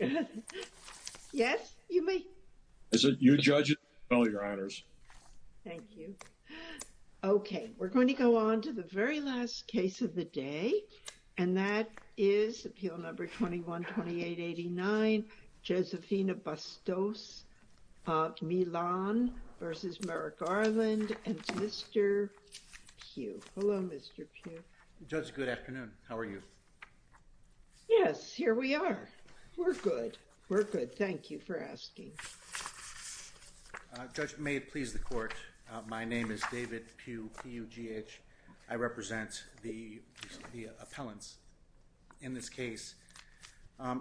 and Mr. Pugh. Hello, Mr. Pugh. Judge, good afternoon. How are you? Yes, here we are. We're good. We're good. Thank you for asking. Judge, may it please the court, my name is David Pugh, P-U-G-H. I represent the appellants in this case.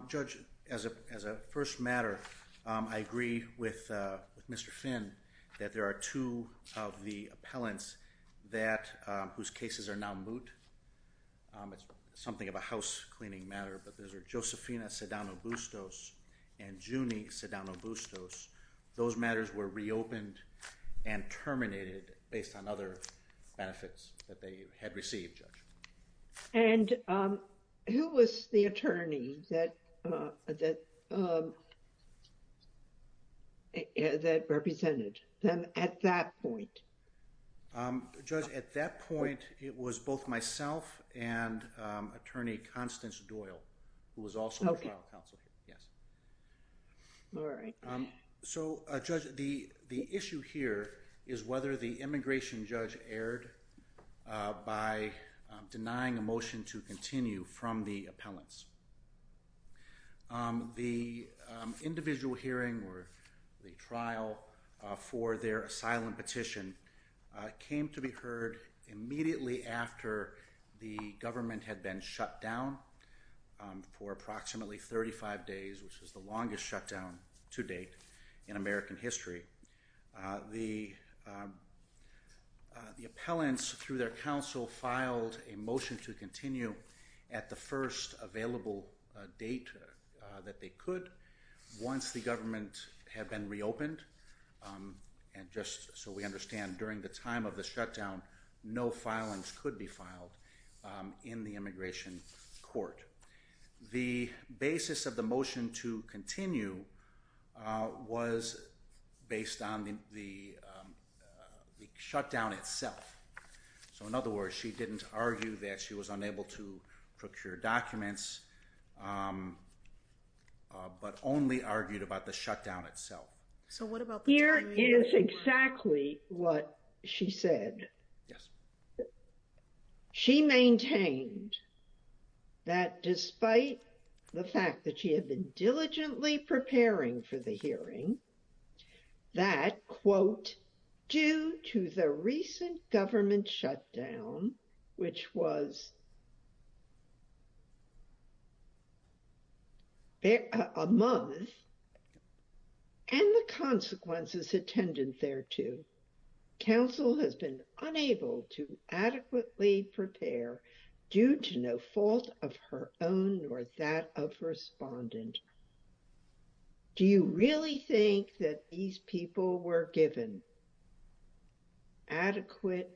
Judge, as a first matter, I agree with Mr. Finn that there are two of the appellants that whose cases are now moot. It's something of a house cleaning matter, but those are Josefina Sedano-Bustos and Junie Sedano-Bustos. Those matters were reopened and terminated based on other benefits that they had received, Judge. And who was the attorney that represented them at that point? Judge, at that point it was both myself and Attorney Constance Doyle, who was also a trial counsel. So, Judge, the issue here is whether the immigration judge erred by denying a motion to continue from the appellants. The individual hearing or the trial for their asylum petition came to be heard immediately after the government had been shut down for approximately 35 days, which is the longest shutdown to date in American history. The appellants, through their counsel, filed a motion to continue at the first available date that they could once the government had been reopened. And just so we understand, during the time of the shutdown, no filings could be filed in the immigration court. The basis of the motion to continue was based on the shutdown itself. So, in other words, she didn't argue that she was unable to Here is exactly what she said. She maintained that despite the fact that she had been diligently preparing for the hearing, that, quote, due to the recent government shutdown, which was a month, and the consequences attendant thereto, counsel has been unable to adequately prepare due to no fault of her own or that of her respondent. Do you really think that these people were given adequate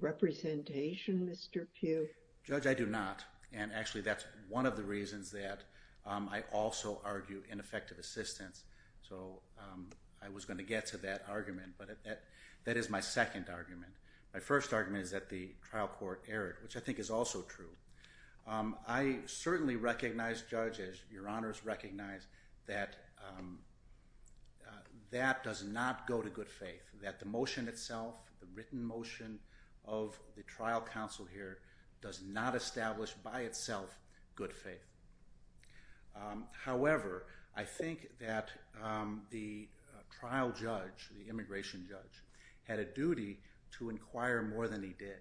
representation, Mr. Pugh? Judge, I do not. And actually, that's one of the reasons that I also argue ineffective assistance. So I was going to get to that argument. But that is my second argument. My first argument is that the trial court erred, which I think is also true. I certainly recognize, Judge, as your honors recognize, that that does not go to good faith, that the motion itself, the written motion of the trial counsel here, does not establish by itself good faith. However, I think that the trial judge, the immigration judge, had a duty to inquire more than he did.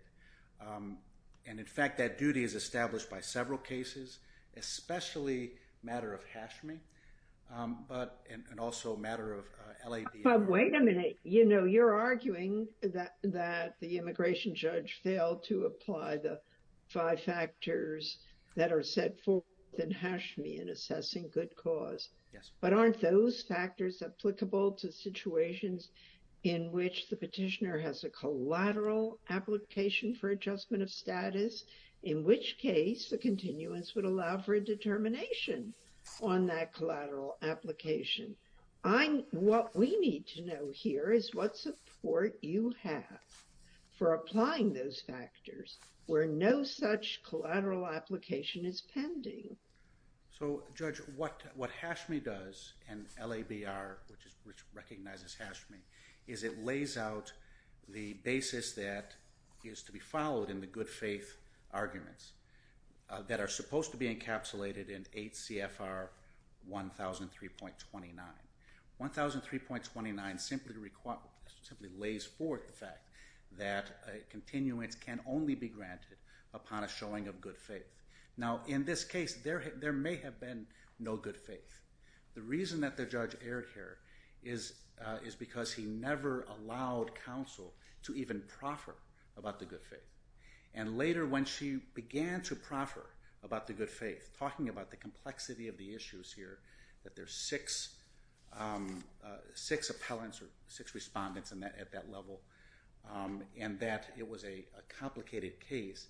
And in fact, that duty is established by several cases, especially matter of Hashmi, but and also matter of L.A. But wait a minute. You know, you're arguing that that the immigration judge failed to apply the five factors that are set forth in Hashmi in assessing good cause. But aren't those factors applicable to situations in which the case, the continuance would allow for a determination on that collateral application? I'm, what we need to know here is what support you have for applying those factors where no such collateral application is pending. So, Judge, what what Hashmi does and L.A. and OBR, which recognizes Hashmi, is it lays out the basis that is to be followed in the good faith arguments that are supposed to be encapsulated in 8 CFR 1003.29. 1003.29 simply lays forth the fact that continuance can only be granted upon a showing of good faith. Now, in this case, there may have been no good faith. The reason that the judge erred here is is because he never allowed counsel to even proffer about the good faith. And later when she began to proffer about the good faith, talking about the complexity of the issues here, that there's six six appellants or six respondents in that at that level, and that it was a complicated case,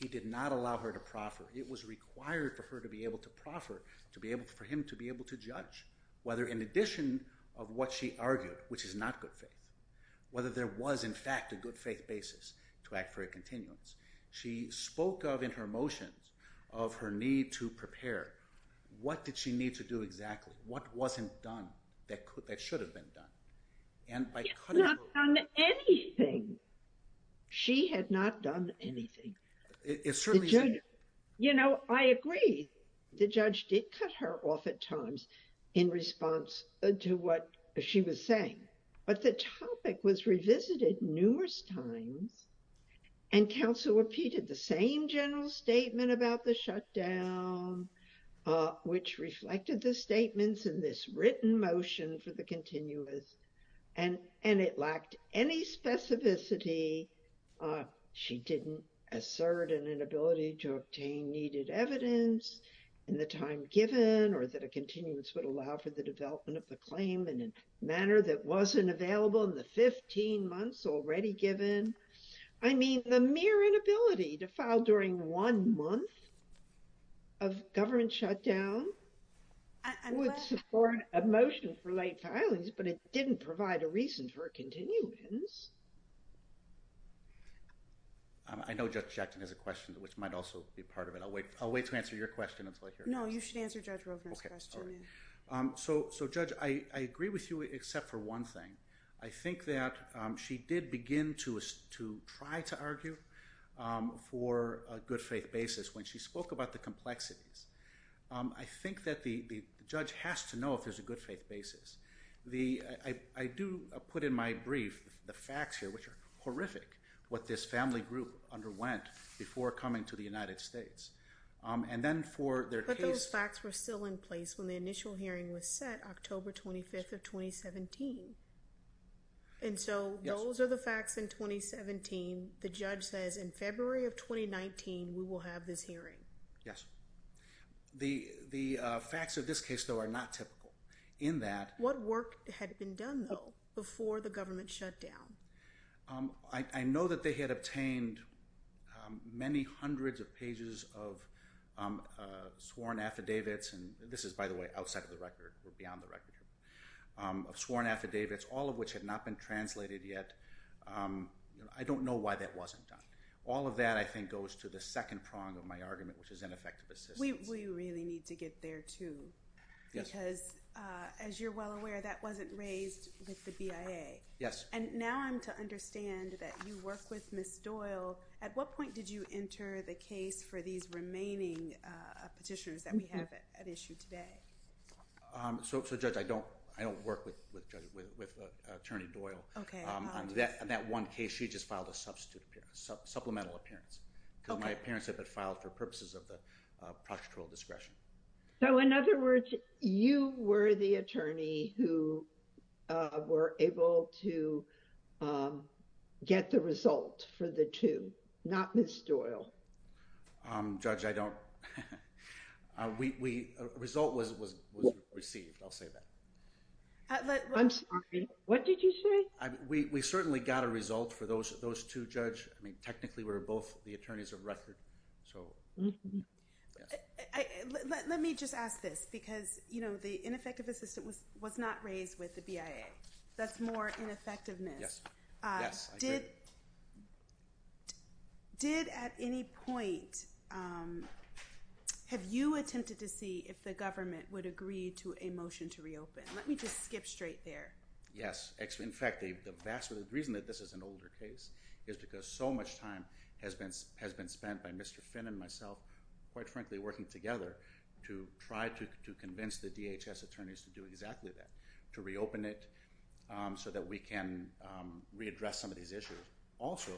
he did not allow her to proffer. It was required for her to be able to proffer, to be able for him to be able to judge whether in addition of what she argued, which is not good faith, whether there was in fact a good faith basis to act for a continuance. She spoke of in her motions of her need to prepare. What did she need to do exactly? What wasn't done that could that should have been done? And by cutting... She had not done anything. She had not done anything. You know, I agree the judge did cut her off at times in response to what she was saying, but the topic was revisited numerous times and counsel repeated the same general statement about the shutdown, which reflected the statements in this written motion for the continuance, and and it lacked any specificity. She didn't assert an inability to obtain needed evidence in the time given or that a continuance would allow for the development of the claim in a manner that wasn't available in the 15 months already given. I mean the mere inability to file during one month of government shutdown would support a motion for late filings, but it didn't provide a reason for a shutdown. I know Judge Jackson has a question, which might also be part of it. I'll wait to answer your question. No, you should answer Judge Rovner's question. So, Judge, I agree with you except for one thing. I think that she did begin to try to argue for a good faith basis when she spoke about the complexities. I think that the judge has to know if there's a good faith basis. I do put in my brief the facts here, which are horrific, what this family group underwent before coming to the United States, and then for their case... But those facts were still in place when the initial hearing was set October 25th of 2017, and so those are the facts in 2017. The judge says in February of 2019 we will have this hearing. Yes, the the facts of this case though are not typical in that... What work had been done though before the government shutdown? I know that they had obtained many hundreds of pages of sworn affidavits, and this is by the way outside of the record or beyond the record, of sworn affidavits, all of which had not been translated yet. I don't know why that wasn't done. All of that, I think, goes to the second prong of my argument, which is ineffective assistance. We really need to get there too, because as you're well aware, that wasn't raised with the BIA. Yes. And now I'm to understand that you work with Ms. Doyle. At what point did you enter the case for these remaining petitioners that we have at issue today? So, Judge, I don't work with Attorney Doyle. Okay. On that one case, she just filed a substitute, supplemental appearance, because my appearance had been filed for the case. You were the attorney who were able to get the result for the two, not Ms. Doyle. Judge, I don't. The result was received, I'll say that. I'm sorry, what did you say? We certainly got a result for those two, Judge. I mean, the ineffective assistance was not raised with the BIA. That's more ineffectiveness. Yes. Did, at any point, have you attempted to see if the government would agree to a motion to reopen? Let me just skip straight there. Yes. In fact, the reason that this is an older case is because so much time has been spent by Mr. Finn and myself, quite frankly, working together to try to convince the DHS attorneys to do exactly that, to reopen it so that we can readdress some of these issues. Also,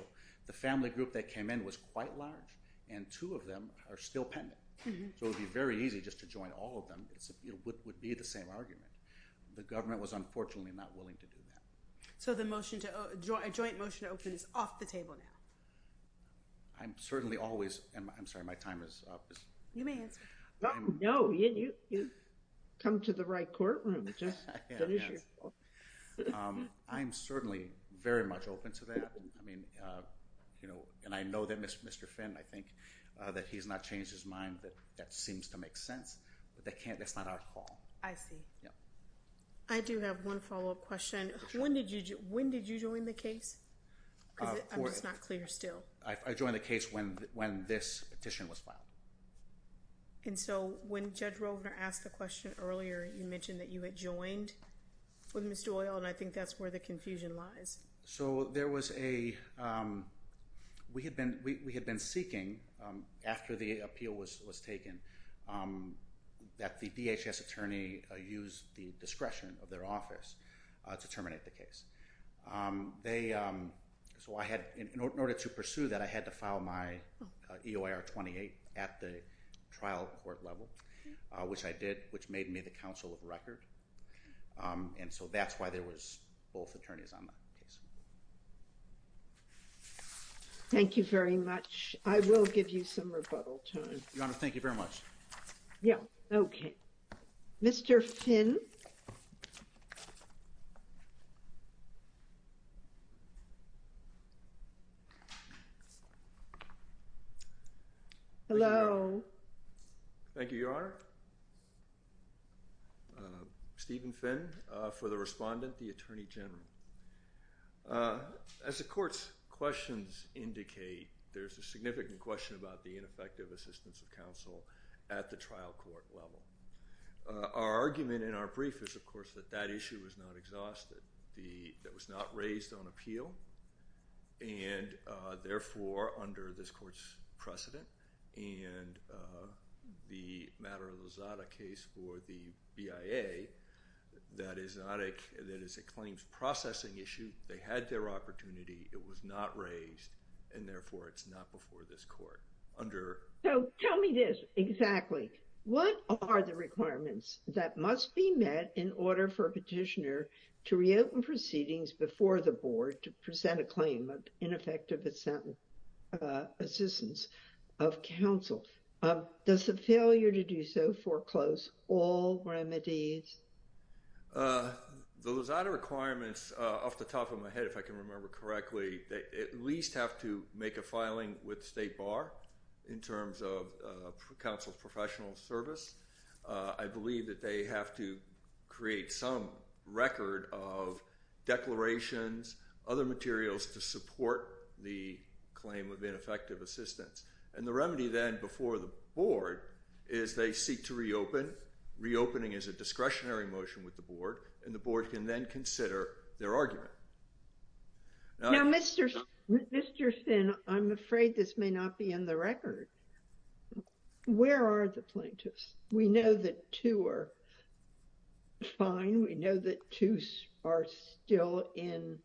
the family group that came in was quite large, and two of them are still pending. So it would be very easy just to join all of them. It would be the same argument. The government was unfortunately not willing to do that. So the motion to, a joint motion to open is off the table now? I'm certainly always, I'm sorry, my time is up. You may answer. No, you come to the right courtroom. I'm certainly very much open to that. I mean, you know, and I know that Mr. Finn, I think that he's not changed his mind that that seems to make sense, but that can't, that's not our call. I see. Yeah. I do have one follow-up question. When did you, when did you join the case? I'm just not clear still. I joined the case when, when this petition was filed. And so when Judge Rovner asked the question earlier, you mentioned that you had joined with Mr. Oyl, and I think that's where the confusion lies. So there was a, we had been, we had been seeking, after the appeal was taken, that the DHS attorney use the discretion of their office to terminate the case. They, so I had, in order to pursue that, I had to file my EOIR 28 at the trial court level, which I did, which made me the counsel of record. And so that's why there was both attorneys on that case. Thank you very much. I will give you some rebuttal time. Your Honor, thank you very much. Yeah, okay. Mr. Finn. Hello. Thank you, Your Honor. Stephen Finn for the respondent, the Attorney General. As the court's questions indicate, there's a significant question about the ineffective assistance of counsel at the trial court level. Our argument in our brief is, of course, that that issue is not exhausted. The, that was not raised on appeal, and therefore, under this court's precedent, and the Matter of the Zada case for the BIA, that is not a, that is a claims processing issue. They had their opportunity. It was not raised, and therefore it's not before this court. So, tell me this exactly. What are the requirements that must be met in order for a petitioner to reopen proceedings before the board to present a claim of ineffective assistance of counsel? Does the failure to do so foreclose all remedies? The Zada requirements, off the top of my head, if I can remember correctly, they at least have to make a filing with the State Bar in terms of counsel's professional service. I believe that they have to create some record of declarations, other materials to support the claim of ineffective assistance, and the remedy then before the board is they seek to reopen. Reopening is a discretionary motion with the board, and the board can then consider their Now, Mr. Stinn, I'm afraid this may not be in the record. Where are the plaintiffs? We know that two are fine. We know that two are still in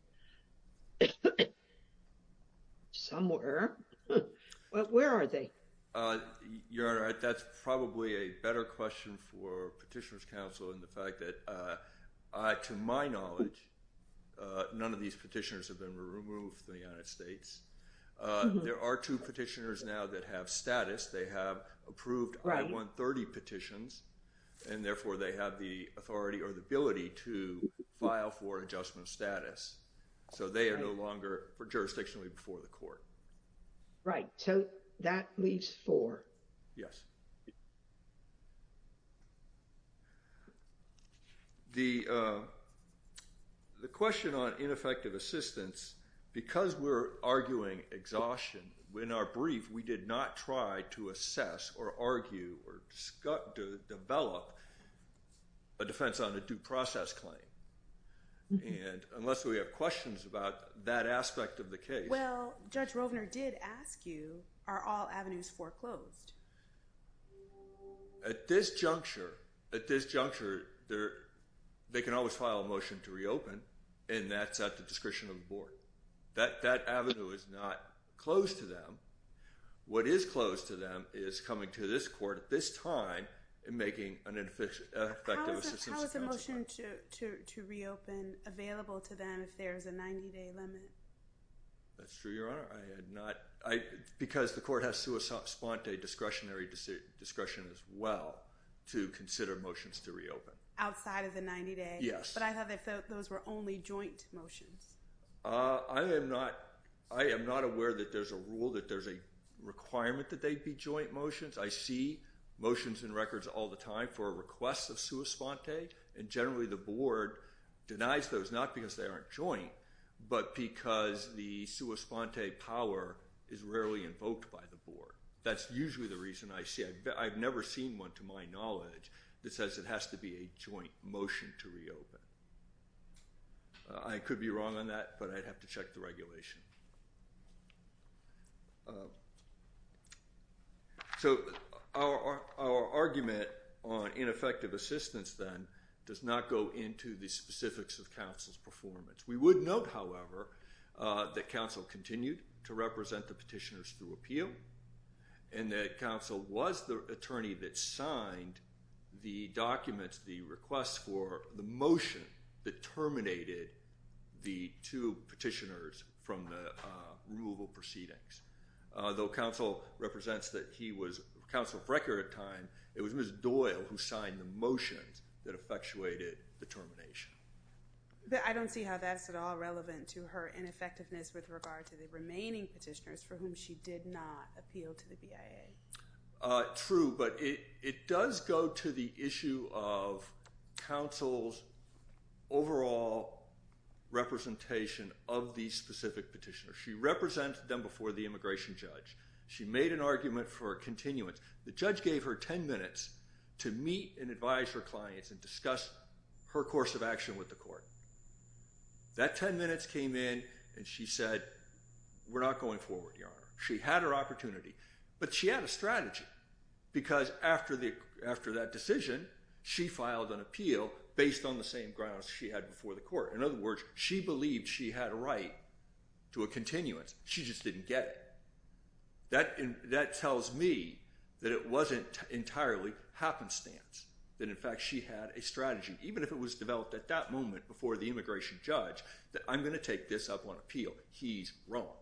somewhere, but where are they? Your Honor, that's probably a better question for Petitioners' Counsel in the fact that, to my knowledge, none of these petitioners have been removed from the United States. There are two petitioners now that have status. They have approved I-130 petitions, and therefore they have the authority or the ability to file for adjustment of status. So they are no longer for jurisdictionally before the court. Right, so that leaves four. Yes, the question on ineffective assistance, because we're arguing exhaustion in our brief, we did not try to assess or argue or develop a defense on a due process claim, and unless we have questions about that aspect of the case. Well, Judge Rovner did ask you, are all avenues foreclosed? At this juncture, at this juncture, they can always file a motion to reopen, and that's at the discretion of the board. That avenue is not closed to them. What is closed to reopen available to them if there is a 90-day limit? That's true, Your Honor. I had not, because the court has sua sponte discretionary discretion as well to consider motions to reopen. Outside of the 90-day? Yes. But I thought those were only joint motions. I am not aware that there's a rule that there's a requirement that they be joint motions. I see motions and records all the time for requests of sua sponte, and generally the board denies those, not because they aren't joint, but because the sua sponte power is rarely invoked by the board. That's usually the reason I see it. I've never seen one, to my knowledge, that says it has to be a joint motion to reopen. I could be wrong on that, but I'd have to check the regulation. So our argument on ineffective assistance, then, does not go into the specifics of counsel's performance. We would note, however, that counsel continued to represent the petitioners through appeal, and that counsel was the attorney that signed the documents, the requests for the motion that terminated the two petitioners from the removal proceedings. Though counsel represents that he was counsel of record at the time, it was Ms. Doyle who signed the motions that effectuated the termination. But I don't see how that's at all relevant to her ineffectiveness with regard to the remaining petitioners for whom she did not appeal to the BIA. True, but it does go to the issue of counsel's overall representation of these specific petitioners. She represented them before the immigration judge. She made an argument for continuance. The judge gave her 10 minutes to meet and advise her clients and discuss her course of action with the court. That 10 minutes came in and she said, we're not going forward, Your Honor. She had her opportunity, but she had a strategy, because after that decision, she filed an appeal based on the same grounds she had before the court. In other words, she believed she had a right to a continuance. She just didn't get it. That tells me that it wasn't entirely happenstance, that in fact she had a strategy, even if it was developed at that moment before the immigration judge, that I'm going to take this up on appeal. He's wrong.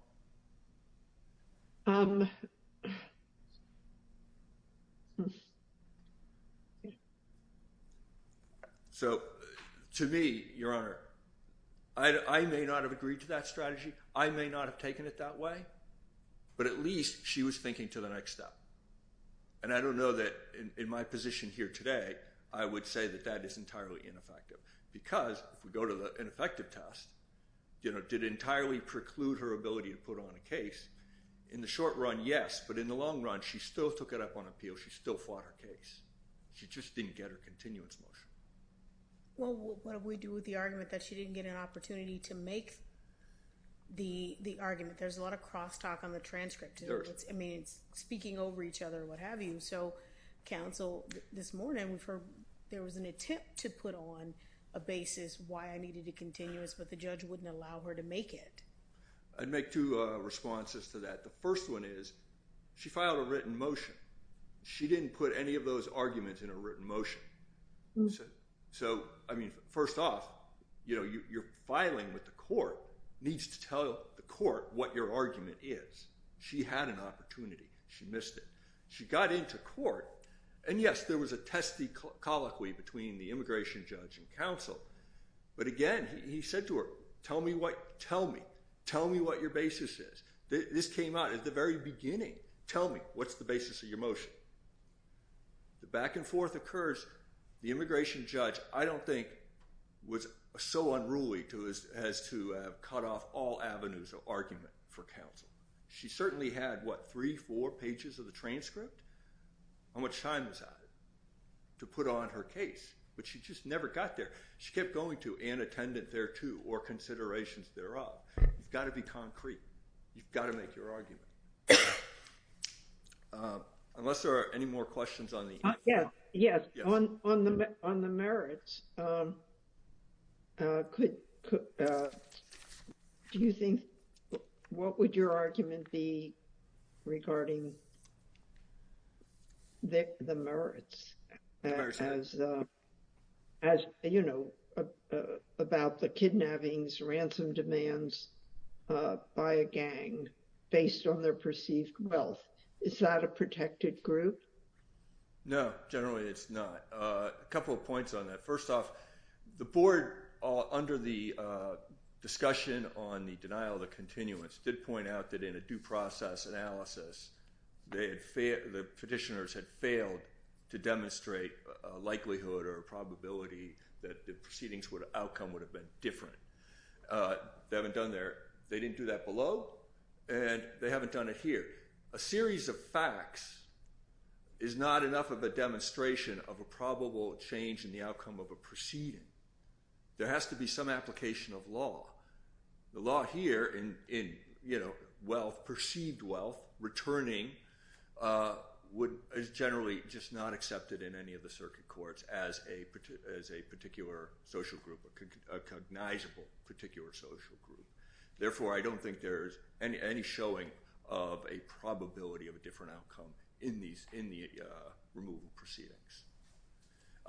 So to me, Your Honor, I may not have agreed to that strategy. I may not have taken it that way, but at least she was thinking to the next step. And I don't know that in my position here today, I would say that that is entirely ineffective, because if we go to the ineffective test, you know, it did entirely preclude her ability to put on a case. In the short run, yes, but in the long run, she still took it up on appeal. She still fought her case. She just didn't get her continuance motion. Well, what do we do with the argument that she didn't get an opportunity to make the argument? There's a lot of crosstalk on the transcript. I mean, it's speaking over each other, what have you. So, counsel, this morning, there was an attempt to put on a basis why I needed a continuance, but the judge wouldn't allow her to make it. I'd make two responses to that. The first one is, she filed a written motion. She didn't put any of those arguments in a written motion. So, I mean, first off, you know, your filing with the court needs to tell the court what your argument is. She had an opportunity. She missed it. She got into court. And yes, there was a testy colloquy between the immigration judge and counsel. But again, he said to her, tell me what your basis is. This came out at the very beginning. Tell me, what's the basis of your motion? The back and forth occurs. The immigration judge, I don't think, was so unruly as to cut off all avenues of argument for counsel. She certainly had, what, three, four to put on her case, but she just never got there. She kept going to, and attendant thereto, or considerations thereof. You've got to be concrete. You've got to make your argument. Unless there are any more questions on the... Yes. Yes. On the merits, could, do you think, what would your argument be regarding the merits as, you know, about the kidnappings, ransom demands by a gang based on their perceived wealth? Is that a protected group? No, generally it's not. A couple of points on that. First off, the board, under the discussion on the denial of the continuance, did point out that in a due process analysis, they had failed, the petitioners had failed to demonstrate a likelihood or a probability that the proceedings would, outcome would have been different. They haven't done their, they didn't do that below, and they haven't done it here. A series of facts is not enough of a demonstration of a probable change in the outcome of a proceeding. There has to be some application of law. The law here in, in, you know, wealth, perceived wealth, returning, is generally just not accepted in any of the circuit courts as a particular social group, a cognizable particular social group. Therefore, I don't think there's any showing of a probability of a different outcome in these, in the removal proceedings.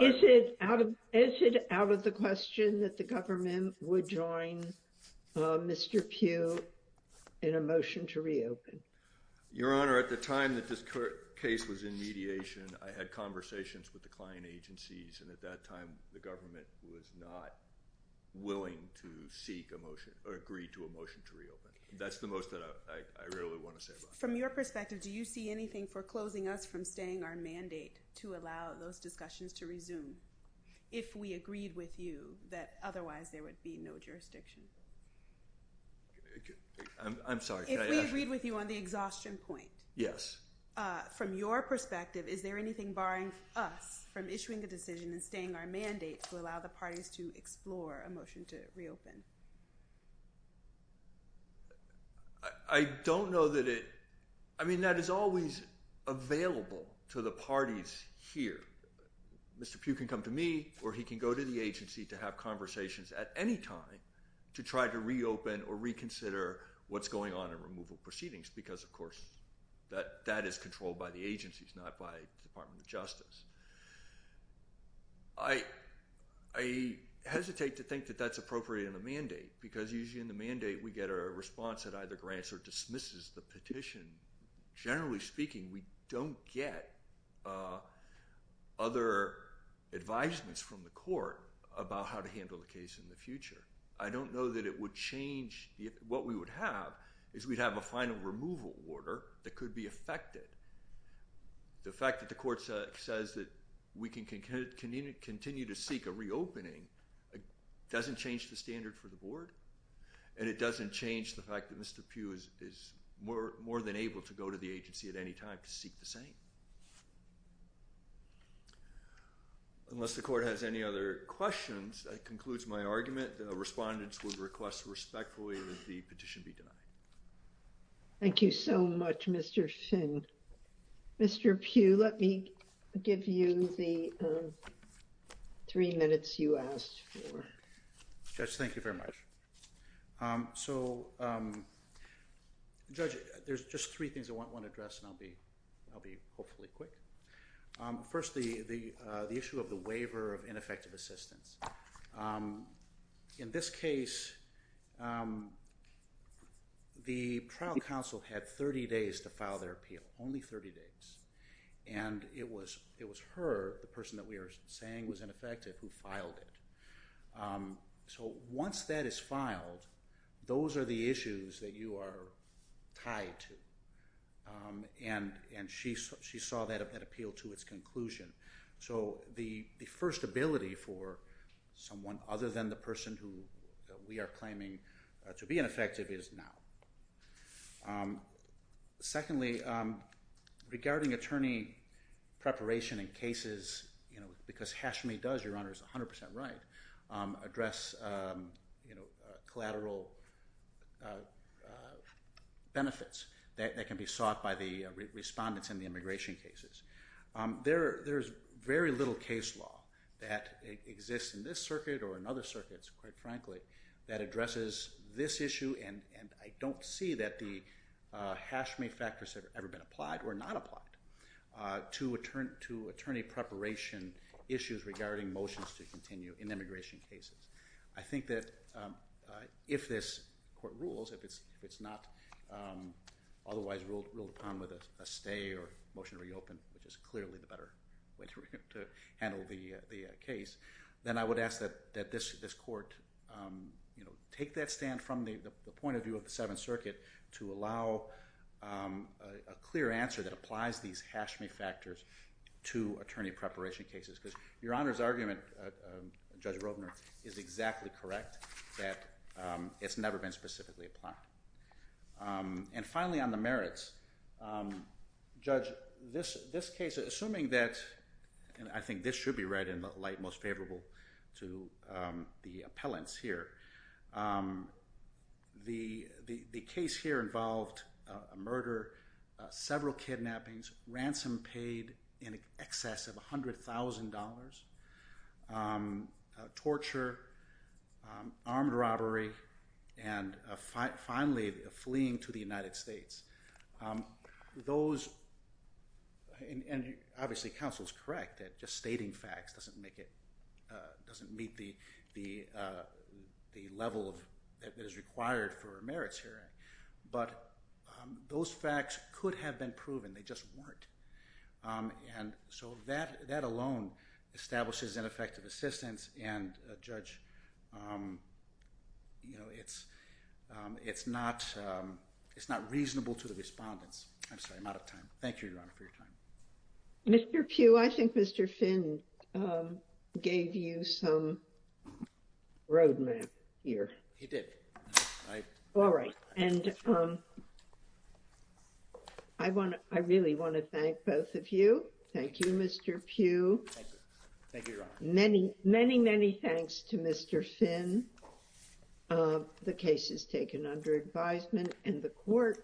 Is it out of, is it out of the question that the government would join Mr. Pugh in a motion to reopen? Your Honor, at the time that this case was in mediation, I had conversations with the client agencies, and at that time, the government was not willing to seek a motion, or agree to a motion to reopen. That's the most that I really want to say about that. From your perspective, do you see anything foreclosing us from staying our mandate to allow those discussions to resume, if we agreed with you, that otherwise there would be no jurisdiction? I'm sorry. If we agreed with you on the exhaustion point. Yes. From your perspective, is there anything barring us from issuing a decision and I don't know that it, I mean, that is always available to the parties here. Mr. Pugh can come to me, or he can go to the agency to have conversations at any time to try to reopen or reconsider what's going on in removal proceedings, because of course, that, that is controlled by the agencies, not by Department of Justice. I, I hesitate to think that that's appropriate in a mandate, because usually in the mandate, we get a response that either grants or dismisses the petition. Generally speaking, we don't get other advisements from the court about how to handle the case in the future. I don't know that it would change, what we would have is we'd have a final removal order that could be affected. The fact that court says that we can continue to seek a reopening, it doesn't change the standard for the board. And it doesn't change the fact that Mr. Pugh is more than able to go to the agency at any time to seek the same. Unless the court has any other questions, that concludes my argument. The respondents would request respectfully that the petition be denied. Thank you so much, Mr. Finn. Mr. Pugh, let me give you the three minutes you asked for. Judge, thank you very much. So, Judge, there's just three things I want to address and I'll be, I'll be hopefully quick. Firstly, the, the issue of the trial counsel had 30 days to file their appeal, only 30 days. And it was, it was her, the person that we are saying was ineffective, who filed it. So once that is filed, those are the issues that you are tied to. And, and she, she saw that appeal to its conclusion. So the, the first ability for someone other than the attorney to file an appeal. Secondly, regarding attorney preparation in cases, you know, because Hashimi does, Your Honor, is 100% right, address, you know, collateral benefits that, that can be sought by the respondents in the immigration cases. There, there's very little case law that exists in this circuit or in other circuits, quite frankly, that addresses this issue and, and I don't see that the Hashimi factors have ever been applied or not applied to attorney, to attorney preparation issues regarding motions to continue in immigration cases. I think that if this court rules, if it's, if it's not otherwise ruled, ruled upon with a stay or motion to reopen, which is clearly the better way to, to handle the, the case, then I would ask that, that this, this court, you know, take that stand from the, the point of view of the Seventh Circuit to allow a clear answer that applies these Hashimi factors to attorney preparation cases. Because Your Honor's argument, Judge Rovner is exactly correct that it's never been specifically applied. And finally, on the merits, Judge, this, this case, assuming that, and I think this should be read in to the appellants here, the, the, the case here involved a murder, several kidnappings, ransom paid in excess of $100,000, torture, armed robbery, and finally fleeing to the United States. Those, and, and obviously counsel's argument is correct that just stating facts doesn't make it, doesn't meet the, the, the level of, that is required for a merits hearing. But those facts could have been proven, they just weren't. And so that, that alone establishes ineffective assistance and Judge, you know, it's, it's not, it's not reasonable to the respondents. I'm sorry, I'm out of time. Thank you, Your Honor, for your time. I think Mr. Finn gave you some roadmap here. He did. All right. And I want to, I really want to thank both of you. Thank you, Mr. Pugh. Thank you, Your Honor. Many, many, many thanks to Mr. Finn. The case is taken under advisement and the court.